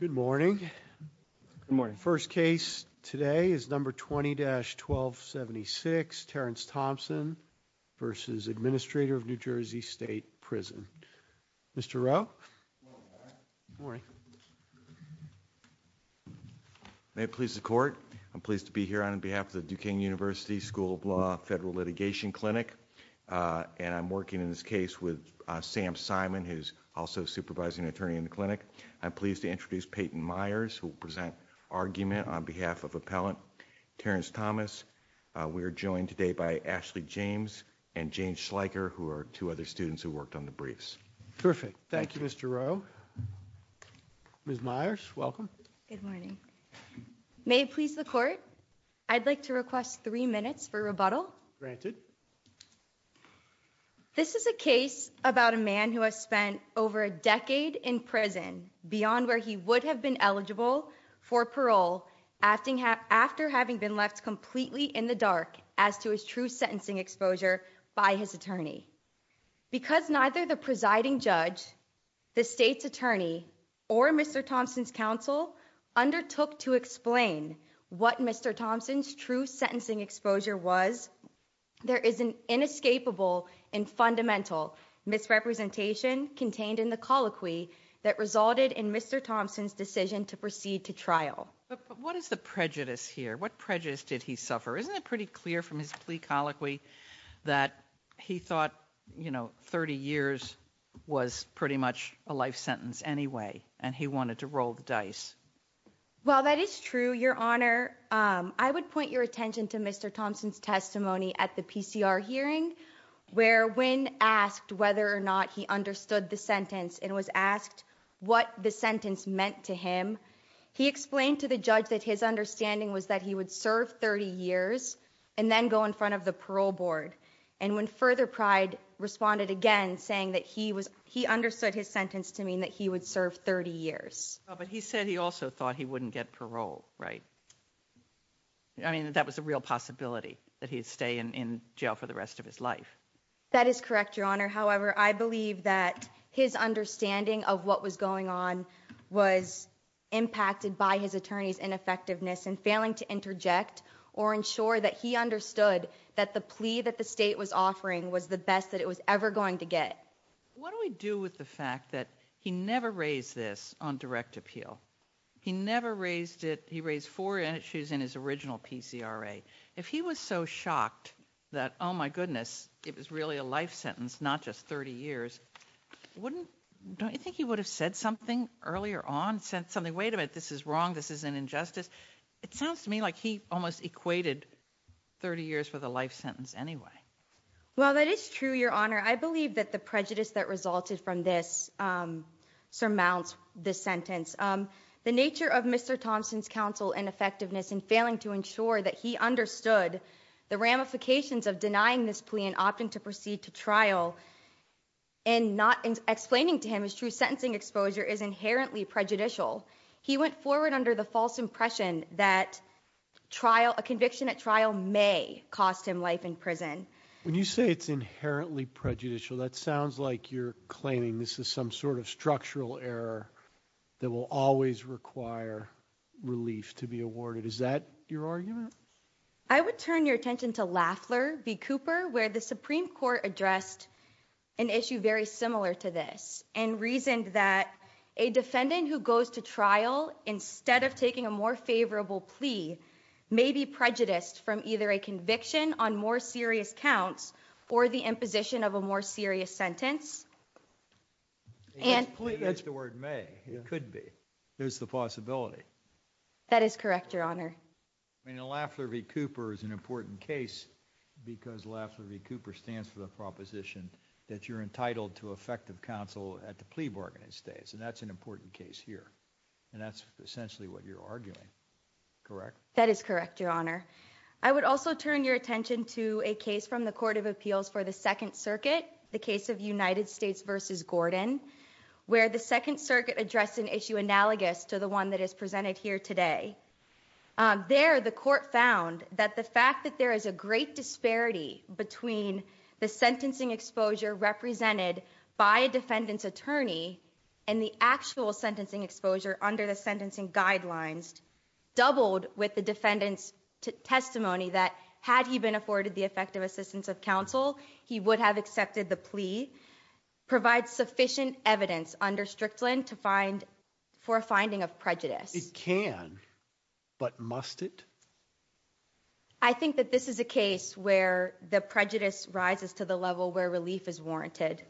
Good morning. First case today is number 20-1276, Terrence Thompson v. Administrator of NJ State Prison. Mr. Rowe? May it please the court, I'm pleased to be here on behalf of the Duquesne University School of Law Federal Litigation Clinic. And I'm working in this case with Sam Simon, who's also supervising attorney in the clinic. I'm pleased to introduce Peyton Myers, who will present argument on behalf of appellant Terrence Thomas. We are joined today by Ashley James and Jane Schleicher, who are two other students who worked on the briefs. Terrific. Thank you, Mr. Rowe. Ms. Myers, welcome. Good morning. May it please the court, I'd like to request three minutes for rebuttal. Granted. This is a case about a man who has spent over a decade in prison beyond where he would have been eligible for parole after having been left completely in the dark as to his true sentencing exposure by his attorney. Because neither the presiding judge, the state's attorney, or Mr. Thompson's counsel undertook to explain what Mr. Thompson's true sentencing exposure was, there is an inescapable and fundamental misrepresentation contained in the colloquy that resulted in Mr. Thompson's decision to proceed to trial. But what is the prejudice here? What prejudice did he suffer? Isn't it pretty clear from his plea colloquy that he thought, you know, 30 years was pretty much a life sentence anyway, and he wanted to roll the dice? Well, that is true, Your Honor. I would point your attention to Mr. Thompson's testimony at the PCR hearing, where when asked whether or not he understood the sentence and was asked what the sentence meant to him, he explained to the judge that his understanding was that he would serve 30 years and then go in front of the parole board. And when further pride responded again, saying that he was he understood his sentence to mean that he would serve 30 years. But he said he also thought he wouldn't get parole. Right. I mean, that was a real possibility that he'd stay in jail for the rest of his life. That is correct, Your Honor. However, I believe that his understanding of what was going on was impacted by his attorney's ineffectiveness and failing to interject or ensure that he understood that the plea that the state was offering was the best that it was ever going to get. What do we do with the fact that he never raised this on direct appeal? He never raised it. He raised four issues in his original PCRA. If he was so shocked that, oh, my goodness, it was really a life sentence, not just 30 years, wouldn't you think he would have said something earlier on? Wait a minute. This is wrong. This is an injustice. It sounds to me like he almost equated 30 years for the life sentence anyway. Well, that is true, Your Honor. I believe that the prejudice that resulted from this surmounts this sentence. The nature of Mr. Thompson's counsel and effectiveness in failing to ensure that he understood the ramifications of denying this plea and opting to proceed to trial. And not explaining to him his true sentencing exposure is inherently prejudicial. He went forward under the false impression that trial, a conviction at trial may cost him life in prison. When you say it's inherently prejudicial, that sounds like you're claiming this is some sort of structural error that will always require relief to be awarded. Is that your argument? I would turn your attention to Lafler v. Cooper, where the Supreme Court addressed an issue very similar to this and reasoned that a defendant who goes to trial, instead of taking a more favorable plea, may be prejudiced from either a conviction on more serious counts or the imposition of a more serious sentence. That's the word may. It could be. There's the possibility. That is correct, Your Honor. I mean, Lafler v. Cooper is an important case because Lafler v. Cooper stands for the proposition that you're entitled to effective counsel at the plea bargaining stage. And that's an important case here. And that's essentially what you're arguing, correct? That is correct, Your Honor. I would also turn your attention to a case from the Court of Appeals for the Second Circuit, the case of United States versus Gordon, where the Second Circuit addressed an issue analogous to the one that is presented here today. There, the court found that the fact that there is a great disparity between the sentencing exposure represented by a defendant's attorney and the actual sentencing exposure under the sentencing guidelines doubled with the defendant's testimony that, had he been afforded the effective assistance of counsel, he would have accepted the plea, provides sufficient evidence under Strickland for a finding of prejudice. It can, but must it? I think that this is a case where the prejudice rises to the level where relief is warranted.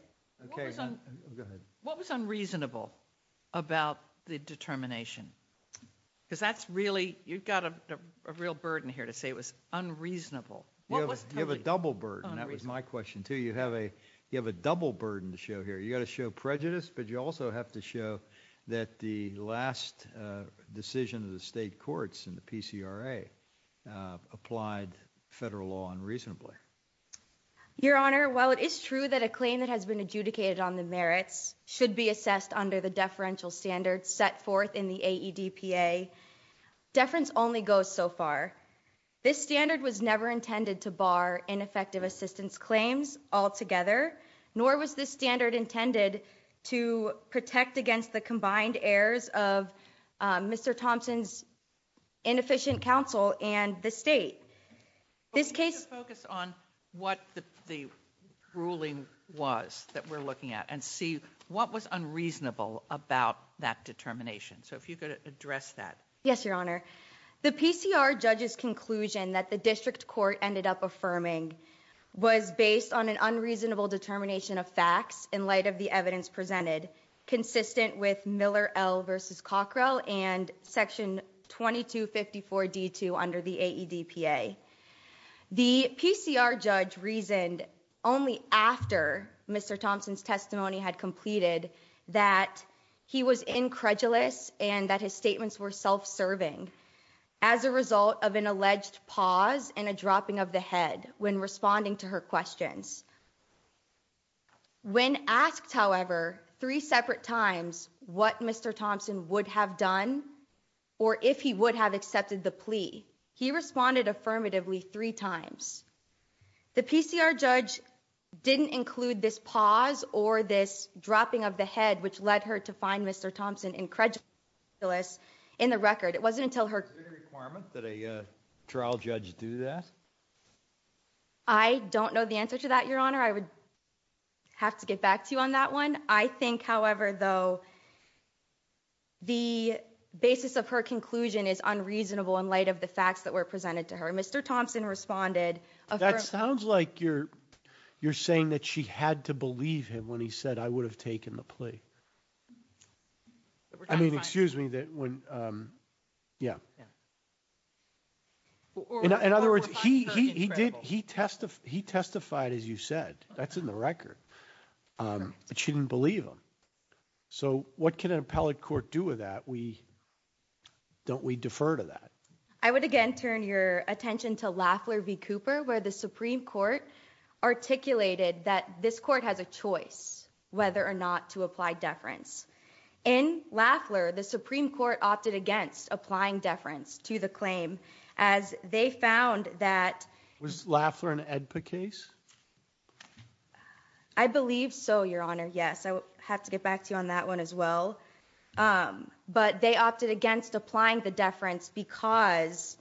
What was unreasonable about the determination? Because that's really, you've got a real burden here to say it was unreasonable. You have a double burden. That was my question, too. You have a double burden to show here. You've got to show prejudice, but you also have to show that the last decision of the state courts in the PCRA applied federal law unreasonably. Your Honor, while it is true that a claim that has been adjudicated on the merits should be assessed under the deferential standards set forth in the AEDPA, deference only goes so far. This standard was never intended to bar ineffective assistance claims altogether, nor was this standard intended to protect against the combined errors of Mr. Thompson's inefficient counsel and the state. This case. Focus on what the ruling was that we're looking at and see what was unreasonable about that determination. So if you could address that. Yes, Your Honor. The PCR judge's conclusion that the district court ended up affirming was based on an unreasonable determination of facts in light of the evidence presented, consistent with Miller versus Cockrell and Section 2254 D2 under the AEDPA. The PCR judge reasoned only after Mr. Thompson's testimony had completed that he was incredulous and that his statements were self-serving as a result of an alleged pause and a dropping of the head when responding to her questions. When asked, however, three separate times what Mr. Thompson would have done or if he would have accepted the plea, he responded affirmatively three times. The PCR judge didn't include this pause or this dropping of the head, which led her to find Mr. Thompson incredulous in the record. It wasn't until her requirement that a trial judge do that. I don't know the answer to that, Your Honor. I would have to get back to you on that one. I think, however, though. The basis of her conclusion is unreasonable in light of the facts that were presented to her. Mr. Thompson responded. That sounds like you're you're saying that she had to believe him when he said I would have taken the plea. I mean, excuse me, that when. Yeah. In other words, he did. He testified. He testified, as you said, that's in the record. But she didn't believe him. So what can an appellate court do with that? We don't. We defer to that. I would again turn your attention to Lafleur v. Cooper, where the Supreme Court articulated that this court has a choice whether or not to apply deference in Lafleur. The Supreme Court opted against applying deference to the claim as they found that Lafleur and Edpa case. I believe so, Your Honor. Yes, I have to get back to you on that one as well. But they opted against applying the deference because.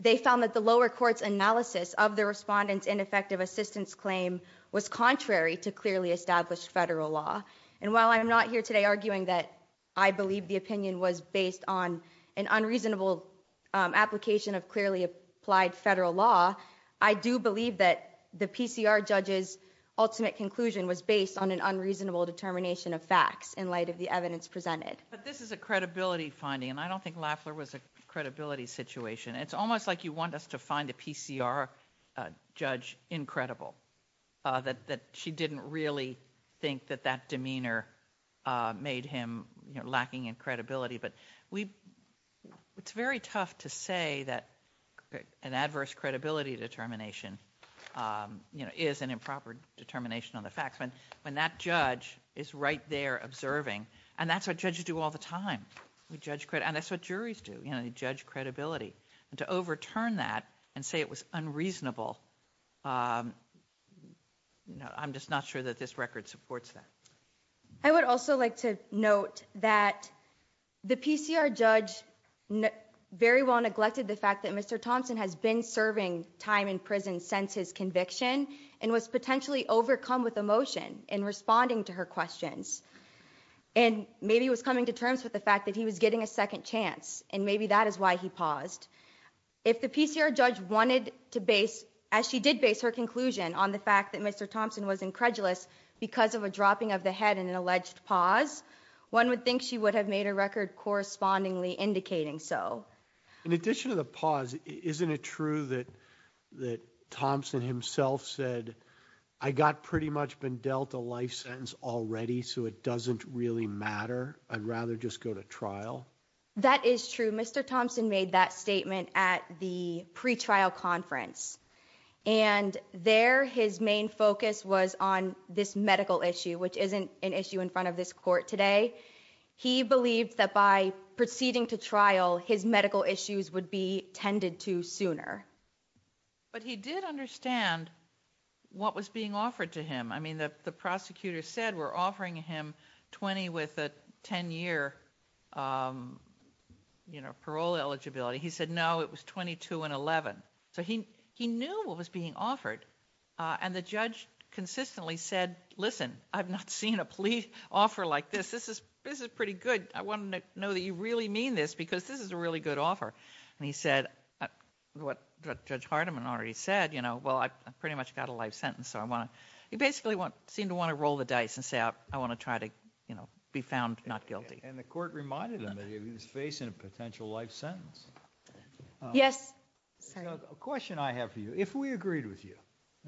They found that the lower courts analysis of the respondents ineffective assistance claim was contrary to clearly established federal law. And while I'm not here today arguing that I believe the opinion was based on an unreasonable application of clearly applied federal law. I do believe that the PCR judge's ultimate conclusion was based on an unreasonable determination of facts in light of the evidence presented. But this is a credibility finding, and I don't think Lafleur was a credibility situation. It's almost like you want us to find a PCR judge incredible. That she didn't really think that that demeanor made him lacking in credibility. But it's very tough to say that an adverse credibility determination is an improper determination on the facts. When that judge is right there observing, and that's what judges do all the time. We judge credit and that's what juries do. You judge credibility and to overturn that and say it was unreasonable. I'm just not sure that this record supports that. I would also like to note that the PCR judge very well neglected the fact that Mr. Thompson has been serving time in prison since his conviction and was potentially overcome with emotion in responding to her questions. And maybe it was coming to terms with the fact that he was getting a second chance and maybe that is why he paused. If the PCR judge wanted to base, as she did base her conclusion on the fact that Mr. Thompson was incredulous because of a dropping of the head in an alleged pause, one would think she would have made a record correspondingly indicating so. In addition to the pause, isn't it true that Thompson himself said, I got pretty much been dealt a life sentence already, so it doesn't really matter. I'd rather just go to trial. That is true. Mr. Thompson made that statement at the pretrial conference and there his main focus was on this medical issue, which isn't an issue in front of this court today. He believed that by proceeding to trial, his medical issues would be tended to sooner. But he did understand what was being offered to him. I mean, the prosecutor said we're offering him 20 with a 10-year, you know, parole eligibility. He said, no, it was 22 and 11. So he knew what was being offered and the judge consistently said, listen, I've not seen a police offer like this. This is pretty good. I want to know that you really mean this because this is a really good offer. And he said, what Judge Hardiman already said, you know, well, I pretty much got a life sentence. He basically seemed to want to roll the dice and say I want to try to, you know, be found not guilty. And the court reminded him that he was facing a potential life sentence. Yes. A question I have for you. If we agreed with you,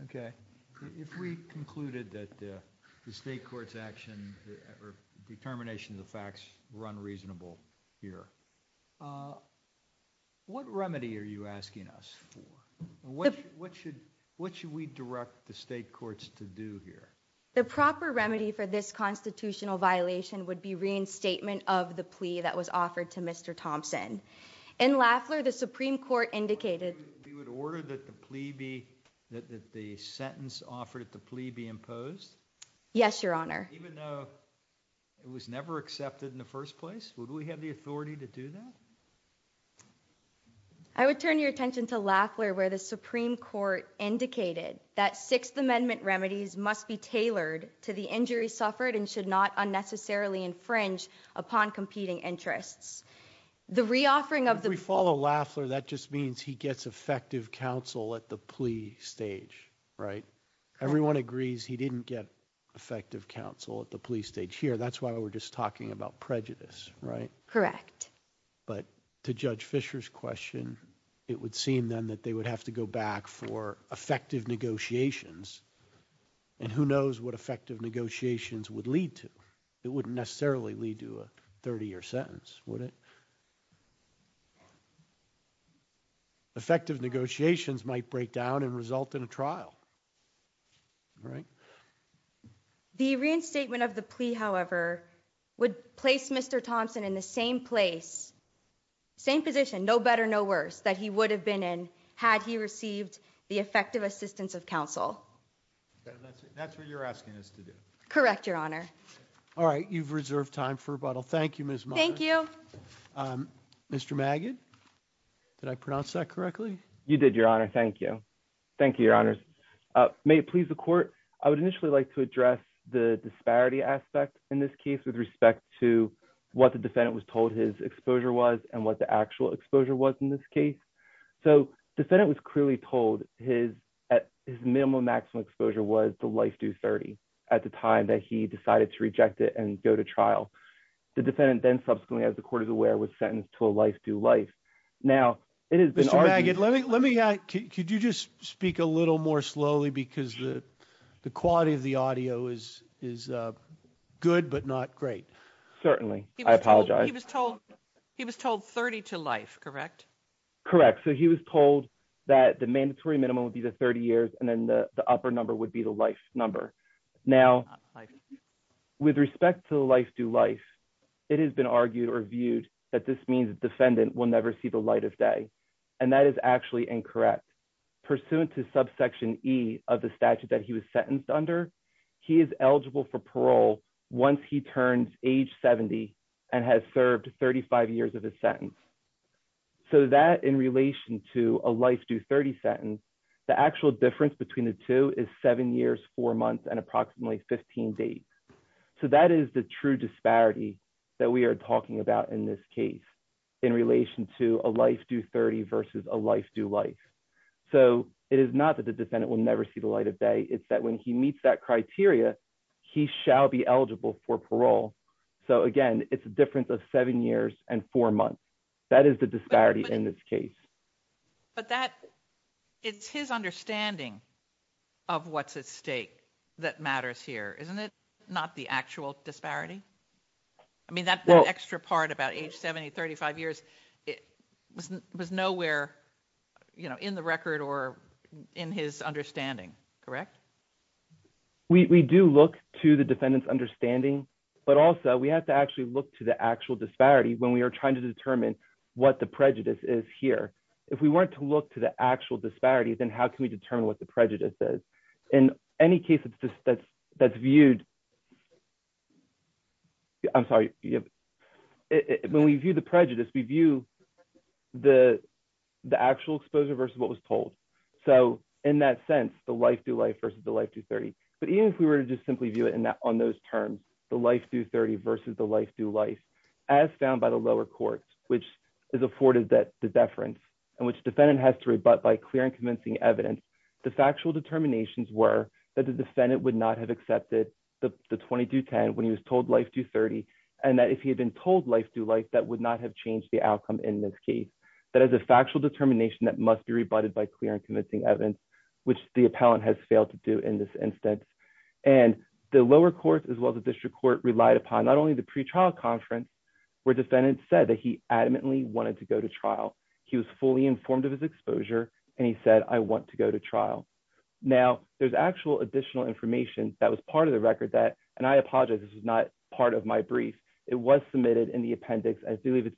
okay, if we concluded that the state court's action or determination of the facts were unreasonable here, what remedy are you asking us for? What should we direct the state courts to do here? The proper remedy for this constitutional violation would be reinstatement of the plea that was offered to Mr. Thompson. In Lafleur, the Supreme Court indicated. We would order that the plea be, that the sentence offered at the plea be imposed? Yes, Your Honor. Even though it was never accepted in the first place, would we have the authority to do that? I would turn your attention to Lafleur where the Supreme Court indicated that Sixth Amendment remedies must be tailored to the injury suffered and should not unnecessarily infringe upon competing interests. The reoffering of the. If we follow Lafleur, that just means he gets effective counsel at the plea stage, right? Everyone agrees he didn't get effective counsel at the plea stage here. That's why we're just talking about prejudice, right? Correct. But to Judge Fisher's question, it would seem then that they would have to go back for effective negotiations. And who knows what effective negotiations would lead to? It wouldn't necessarily lead to a 30-year sentence, would it? Effective negotiations might break down and result in a trial, right? The reinstatement of the plea, however, would place Mr. Thompson in the same place, same position, no better, no worse, that he would have been in had he received the effective assistance of counsel. That's what you're asking us to do. Correct, Your Honor. All right. You've reserved time for rebuttal. Thank you, Miss. Thank you. Mr. Magid, did I pronounce that correctly? You did, Your Honor. Thank you. Thank you, Your Honors. May it please the Court, I would initially like to address the disparity aspect in this case with respect to what the defendant was told his exposure was and what the actual exposure was in this case. So the defendant was clearly told his minimum maximum exposure was the life due 30 at the time that he decided to reject it and go to trial. The defendant then subsequently, as the Court is aware, was sentenced to a life due life. Now, it has been argued. Mr. Magid, let me ask, could you just speak a little more slowly because the quality of the audio is good but not great? Certainly. I apologize. He was told 30 to life, correct? Correct. So he was told that the mandatory minimum would be the 30 years and then the upper number would be the life number. Now, with respect to the life due life, it has been argued or viewed that this means the defendant will never see the light of day. And that is actually incorrect. Pursuant to subsection E of the statute that he was sentenced under, he is eligible for parole once he turns age 70 and has served 35 years of his sentence. So that in relation to a life due 30 sentence, the actual difference between the two is seven years, four months, and approximately 15 days. So that is the true disparity that we are talking about in this case in relation to a life due 30 versus a life due life. So it is not that the defendant will never see the light of day. It's that when he meets that criteria, he shall be eligible for parole. So, again, it's a difference of seven years and four months. That is the disparity in this case. But that it's his understanding of what's at stake that matters here, isn't it? Not the actual disparity. I mean, that extra part about age 70, 35 years, it was nowhere in the record or in his understanding. Correct. We do look to the defendant's understanding, but also we have to actually look to the actual disparity when we are trying to determine what the prejudice is here. If we weren't to look to the actual disparity, then how can we determine what the prejudice is? In any case that's viewed, I'm sorry, when we view the prejudice, we view the actual exposure versus what was told. So in that sense, the life due life versus the life due 30. But even if we were to just simply view it on those terms, the life due 30 versus the life due life, as found by the lower courts, which is afforded that the deference and which defendant has to rebut by clear and convincing evidence. The factual determinations were that the defendant would not have accepted the 2210 when he was told life due 30 and that if he had been told life due life, that would not have changed the outcome in this case. That is a factual determination that must be rebutted by clear and convincing evidence, which the appellant has failed to do in this instance. And the lower courts as well as the district court relied upon not only the pretrial conference where defendants said that he adamantly wanted to go to trial. He was fully informed of his exposure and he said, I want to go to trial. Now, there's actual additional information that was part of the record that, and I apologize, this is not part of my brief, it was submitted in the appendix, I believe it's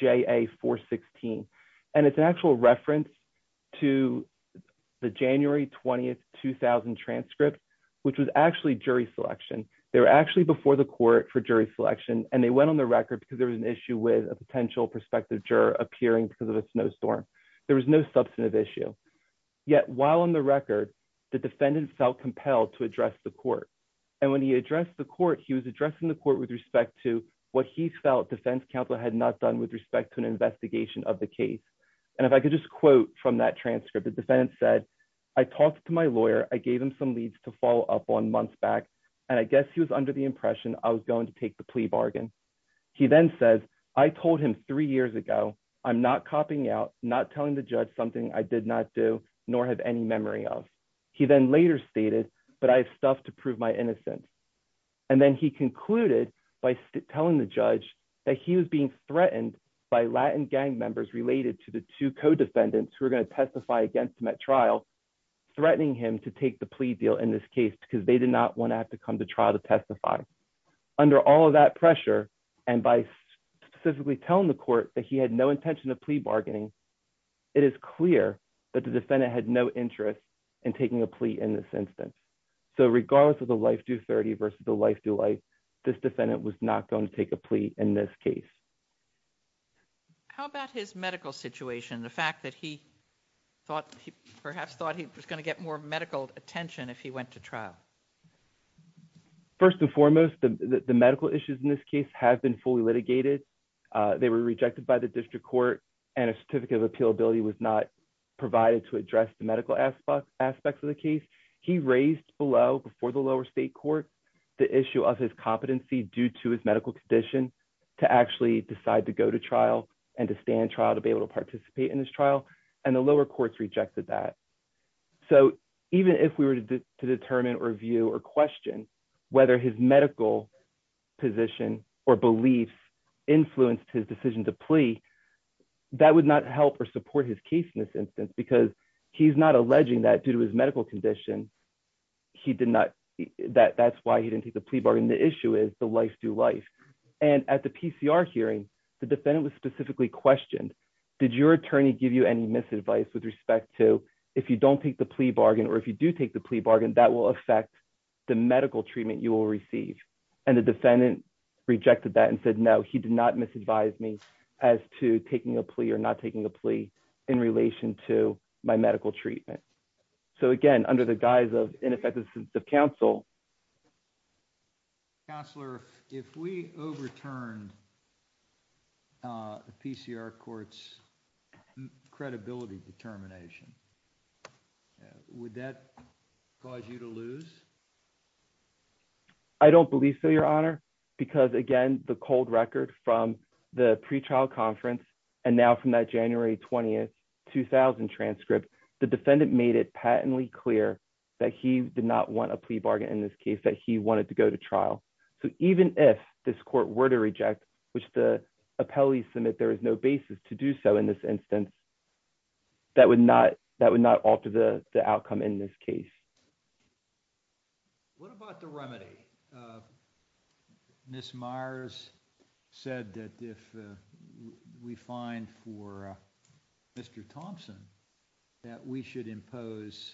JA 416. And it's an actual reference to the January 20, 2000 transcript, which was actually jury selection. They were actually before the court for jury selection, and they went on the record because there was an issue with a potential prospective juror appearing because of a snowstorm. There was no substantive issue. Yet while on the record, the defendant felt compelled to address the court. And when he addressed the court he was addressing the court with respect to what he felt defense counsel had not done with respect to an investigation of the case. And if I could just quote from that transcript the defendant said, I talked to my lawyer, I gave him some leads to follow up on months back, and I guess he was under the impression I was going to take the plea bargain. He then says, I told him three years ago, I'm not copying out, not telling the judge something I did not do, nor have any memory of. He then later stated, but I have stuff to prove my innocence. And then he concluded by telling the judge that he was being threatened by Latin gang members related to the two co defendants who are going to testify against him at trial, threatening him to take the plea deal in this case because they did not want to have to come to trial to testify. Under all of that pressure, and by specifically telling the court that he had no intention of plea bargaining. It is clear that the defendant had no interest in taking a plea in this instance. So regardless of the life to 30 versus the life to life. This defendant was not going to take a plea in this case. How about his medical situation the fact that he thought he perhaps thought he was going to get more medical attention if he went to trial. First and foremost, the medical issues in this case has been fully litigated. They were rejected by the district court, and a certificate of appeal ability was not provided to address the medical aspects aspects of the case, he raised below before the lower state court. The issue of his competency due to his medical condition to actually decide to go to trial, and to stand trial to be able to participate in this trial, and the lower courts rejected that. So, even if we were to determine or view or question, whether his medical position or belief influenced his decision to plea. That would not help or support his case in this instance because he's not alleging that due to his medical condition. He did not that that's why he didn't take the plea bargain the issue is the life to life. And at the PCR hearing the defendant was specifically questioned. Did your attorney give you any misadvice with respect to if you don't take the plea bargain or if you do take the plea bargain that will affect the medical treatment you will receive, and the defendant rejected that and said no he did not misadvise me as to taking a plea or not taking a plea in relation to my medical treatment. So again, under the guise of ineffective the council counselor, if we overturned the PCR courts credibility determination. Would that cause you to lose. I don't believe so Your Honor, because again, the cold record from the pre trial conference, and now from that January 20 2000 transcript, the defendant made it patently clear that he did not want a plea bargain in this case that he wanted to go to trial. So even if this court were to reject, which the appellees submit there is no basis to do so in this instance, that would not that would not alter the outcome in this case. What about the remedy. This Myers said that if we find for Mr. Thompson, that we should impose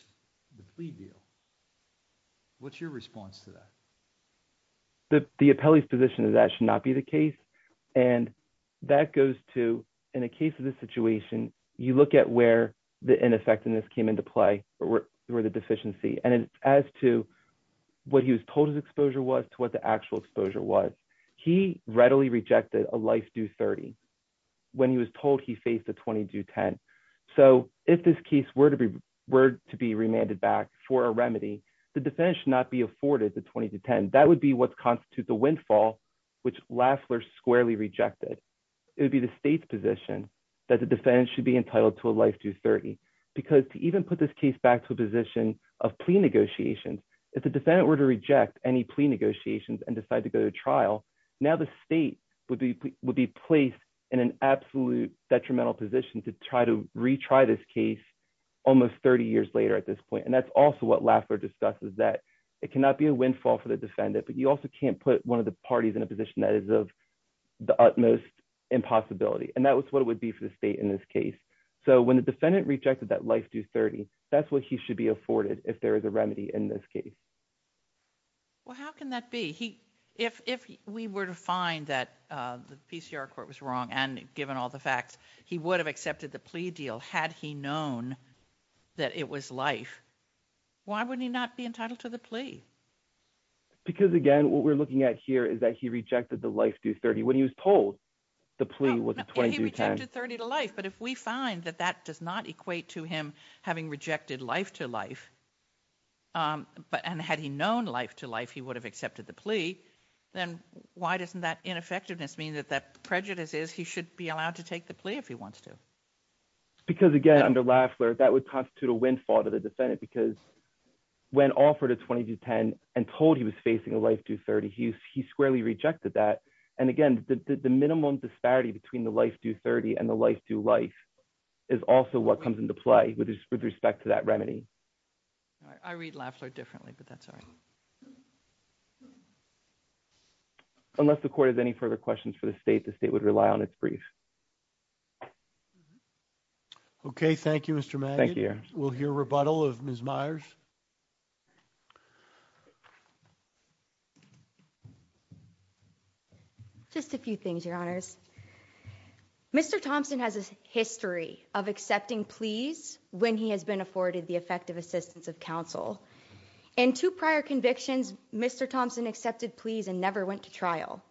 the plea deal. What's your response to that. The appellee's position is that should not be the case. And that goes to, in a case of this situation, you look at where the ineffectiveness came into play, or where the deficiency and as to what he was told his exposure was to what the actual exposure was. He readily rejected a life due 30. When he was told he faced a 20 to 10. So, if this case were to be were to be remanded back for a remedy, the defense should not be afforded the 20 to 10 that would be what constitutes a windfall, which laughs were squarely rejected. It would be the state's position that the defense should be entitled to a life to 30, because to even put this case back to a position of plea negotiations. If the defendant were to reject any plea negotiations and decide to go to trial. Now the state would be would be placed in an absolute detrimental position to try to retry this case. Almost 30 years later at this point and that's also what laughter discusses that it cannot be a windfall for the defendant but you also can't put one of the parties in a position that is of the utmost impossibility and that was what it would be for the state in this case. So when the defendant rejected that life to 30. That's what he should be afforded if there is a remedy in this case. Well, how can that be he if we were to find that the PCR court was wrong and given all the facts, he would have accepted the plea deal had he known that it was life. Why would he not be entitled to the plea. Because again what we're looking at here is that he rejected the life to 30 when he was told the plea was 20 to 30 to life but if we find that that does not equate to him having rejected life to life. But and had he known life to life he would have accepted the plea. Then, why doesn't that ineffectiveness mean that that prejudice is he should be allowed to take the plea if he wants to. Because again under laughter that would constitute a windfall to the defendant because when offered a 20 to 10 and told he was facing a life to 30 he's he squarely rejected that. And again, the minimum disparity between the life to 30 and the life to life is also what comes into play with respect to that remedy. I read laughter differently but that's I'm sorry. Unless the court has any further questions for the state the state would rely on its brief. Okay, thank you Mr. Thank you. We'll hear rebuttal of Ms Myers. Just a few things your honors. Mr. Thompson has a history of accepting please, when he has been afforded the effective assistance of counsel into prior convictions, Mr Thompson accepted please and never went to trial.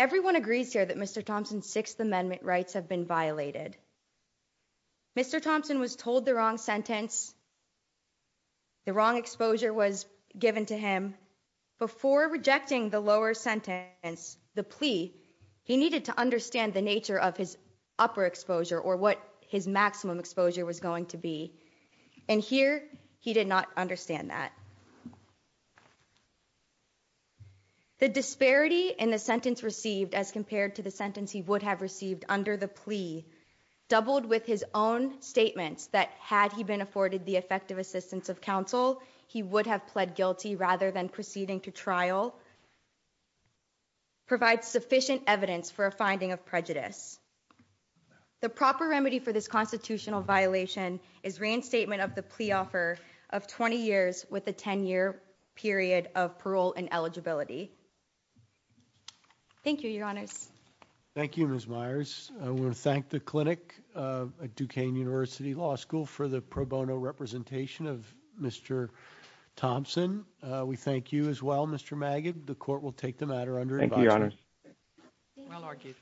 Everyone agrees here that Mr Thompson sixth amendment rights have been violated. Mr Thompson was told the wrong sentence. The wrong exposure was given to him before rejecting the lower sentence, the plea. He needed to understand the nature of his upper exposure or what his maximum exposure was going to be. And here, he did not understand that. The disparity in the sentence received as compared to the sentence he would have received under the plea doubled with his own statements that had he been afforded the effective assistance of counsel, he would have pled guilty rather than proceeding to trial. Provide sufficient evidence for a finding of prejudice. The proper remedy for this constitutional violation is reinstatement of the plea offer of 20 years with a 10 year period of parole and eligibility. Thank you, your honors. Thank you, Ms. Myers. I want to thank the clinic at Duquesne University Law School for the pro bono representation of Mr. Thompson. We thank you as well. Mr. Magid, the court will take the matter under your honor. Well argued.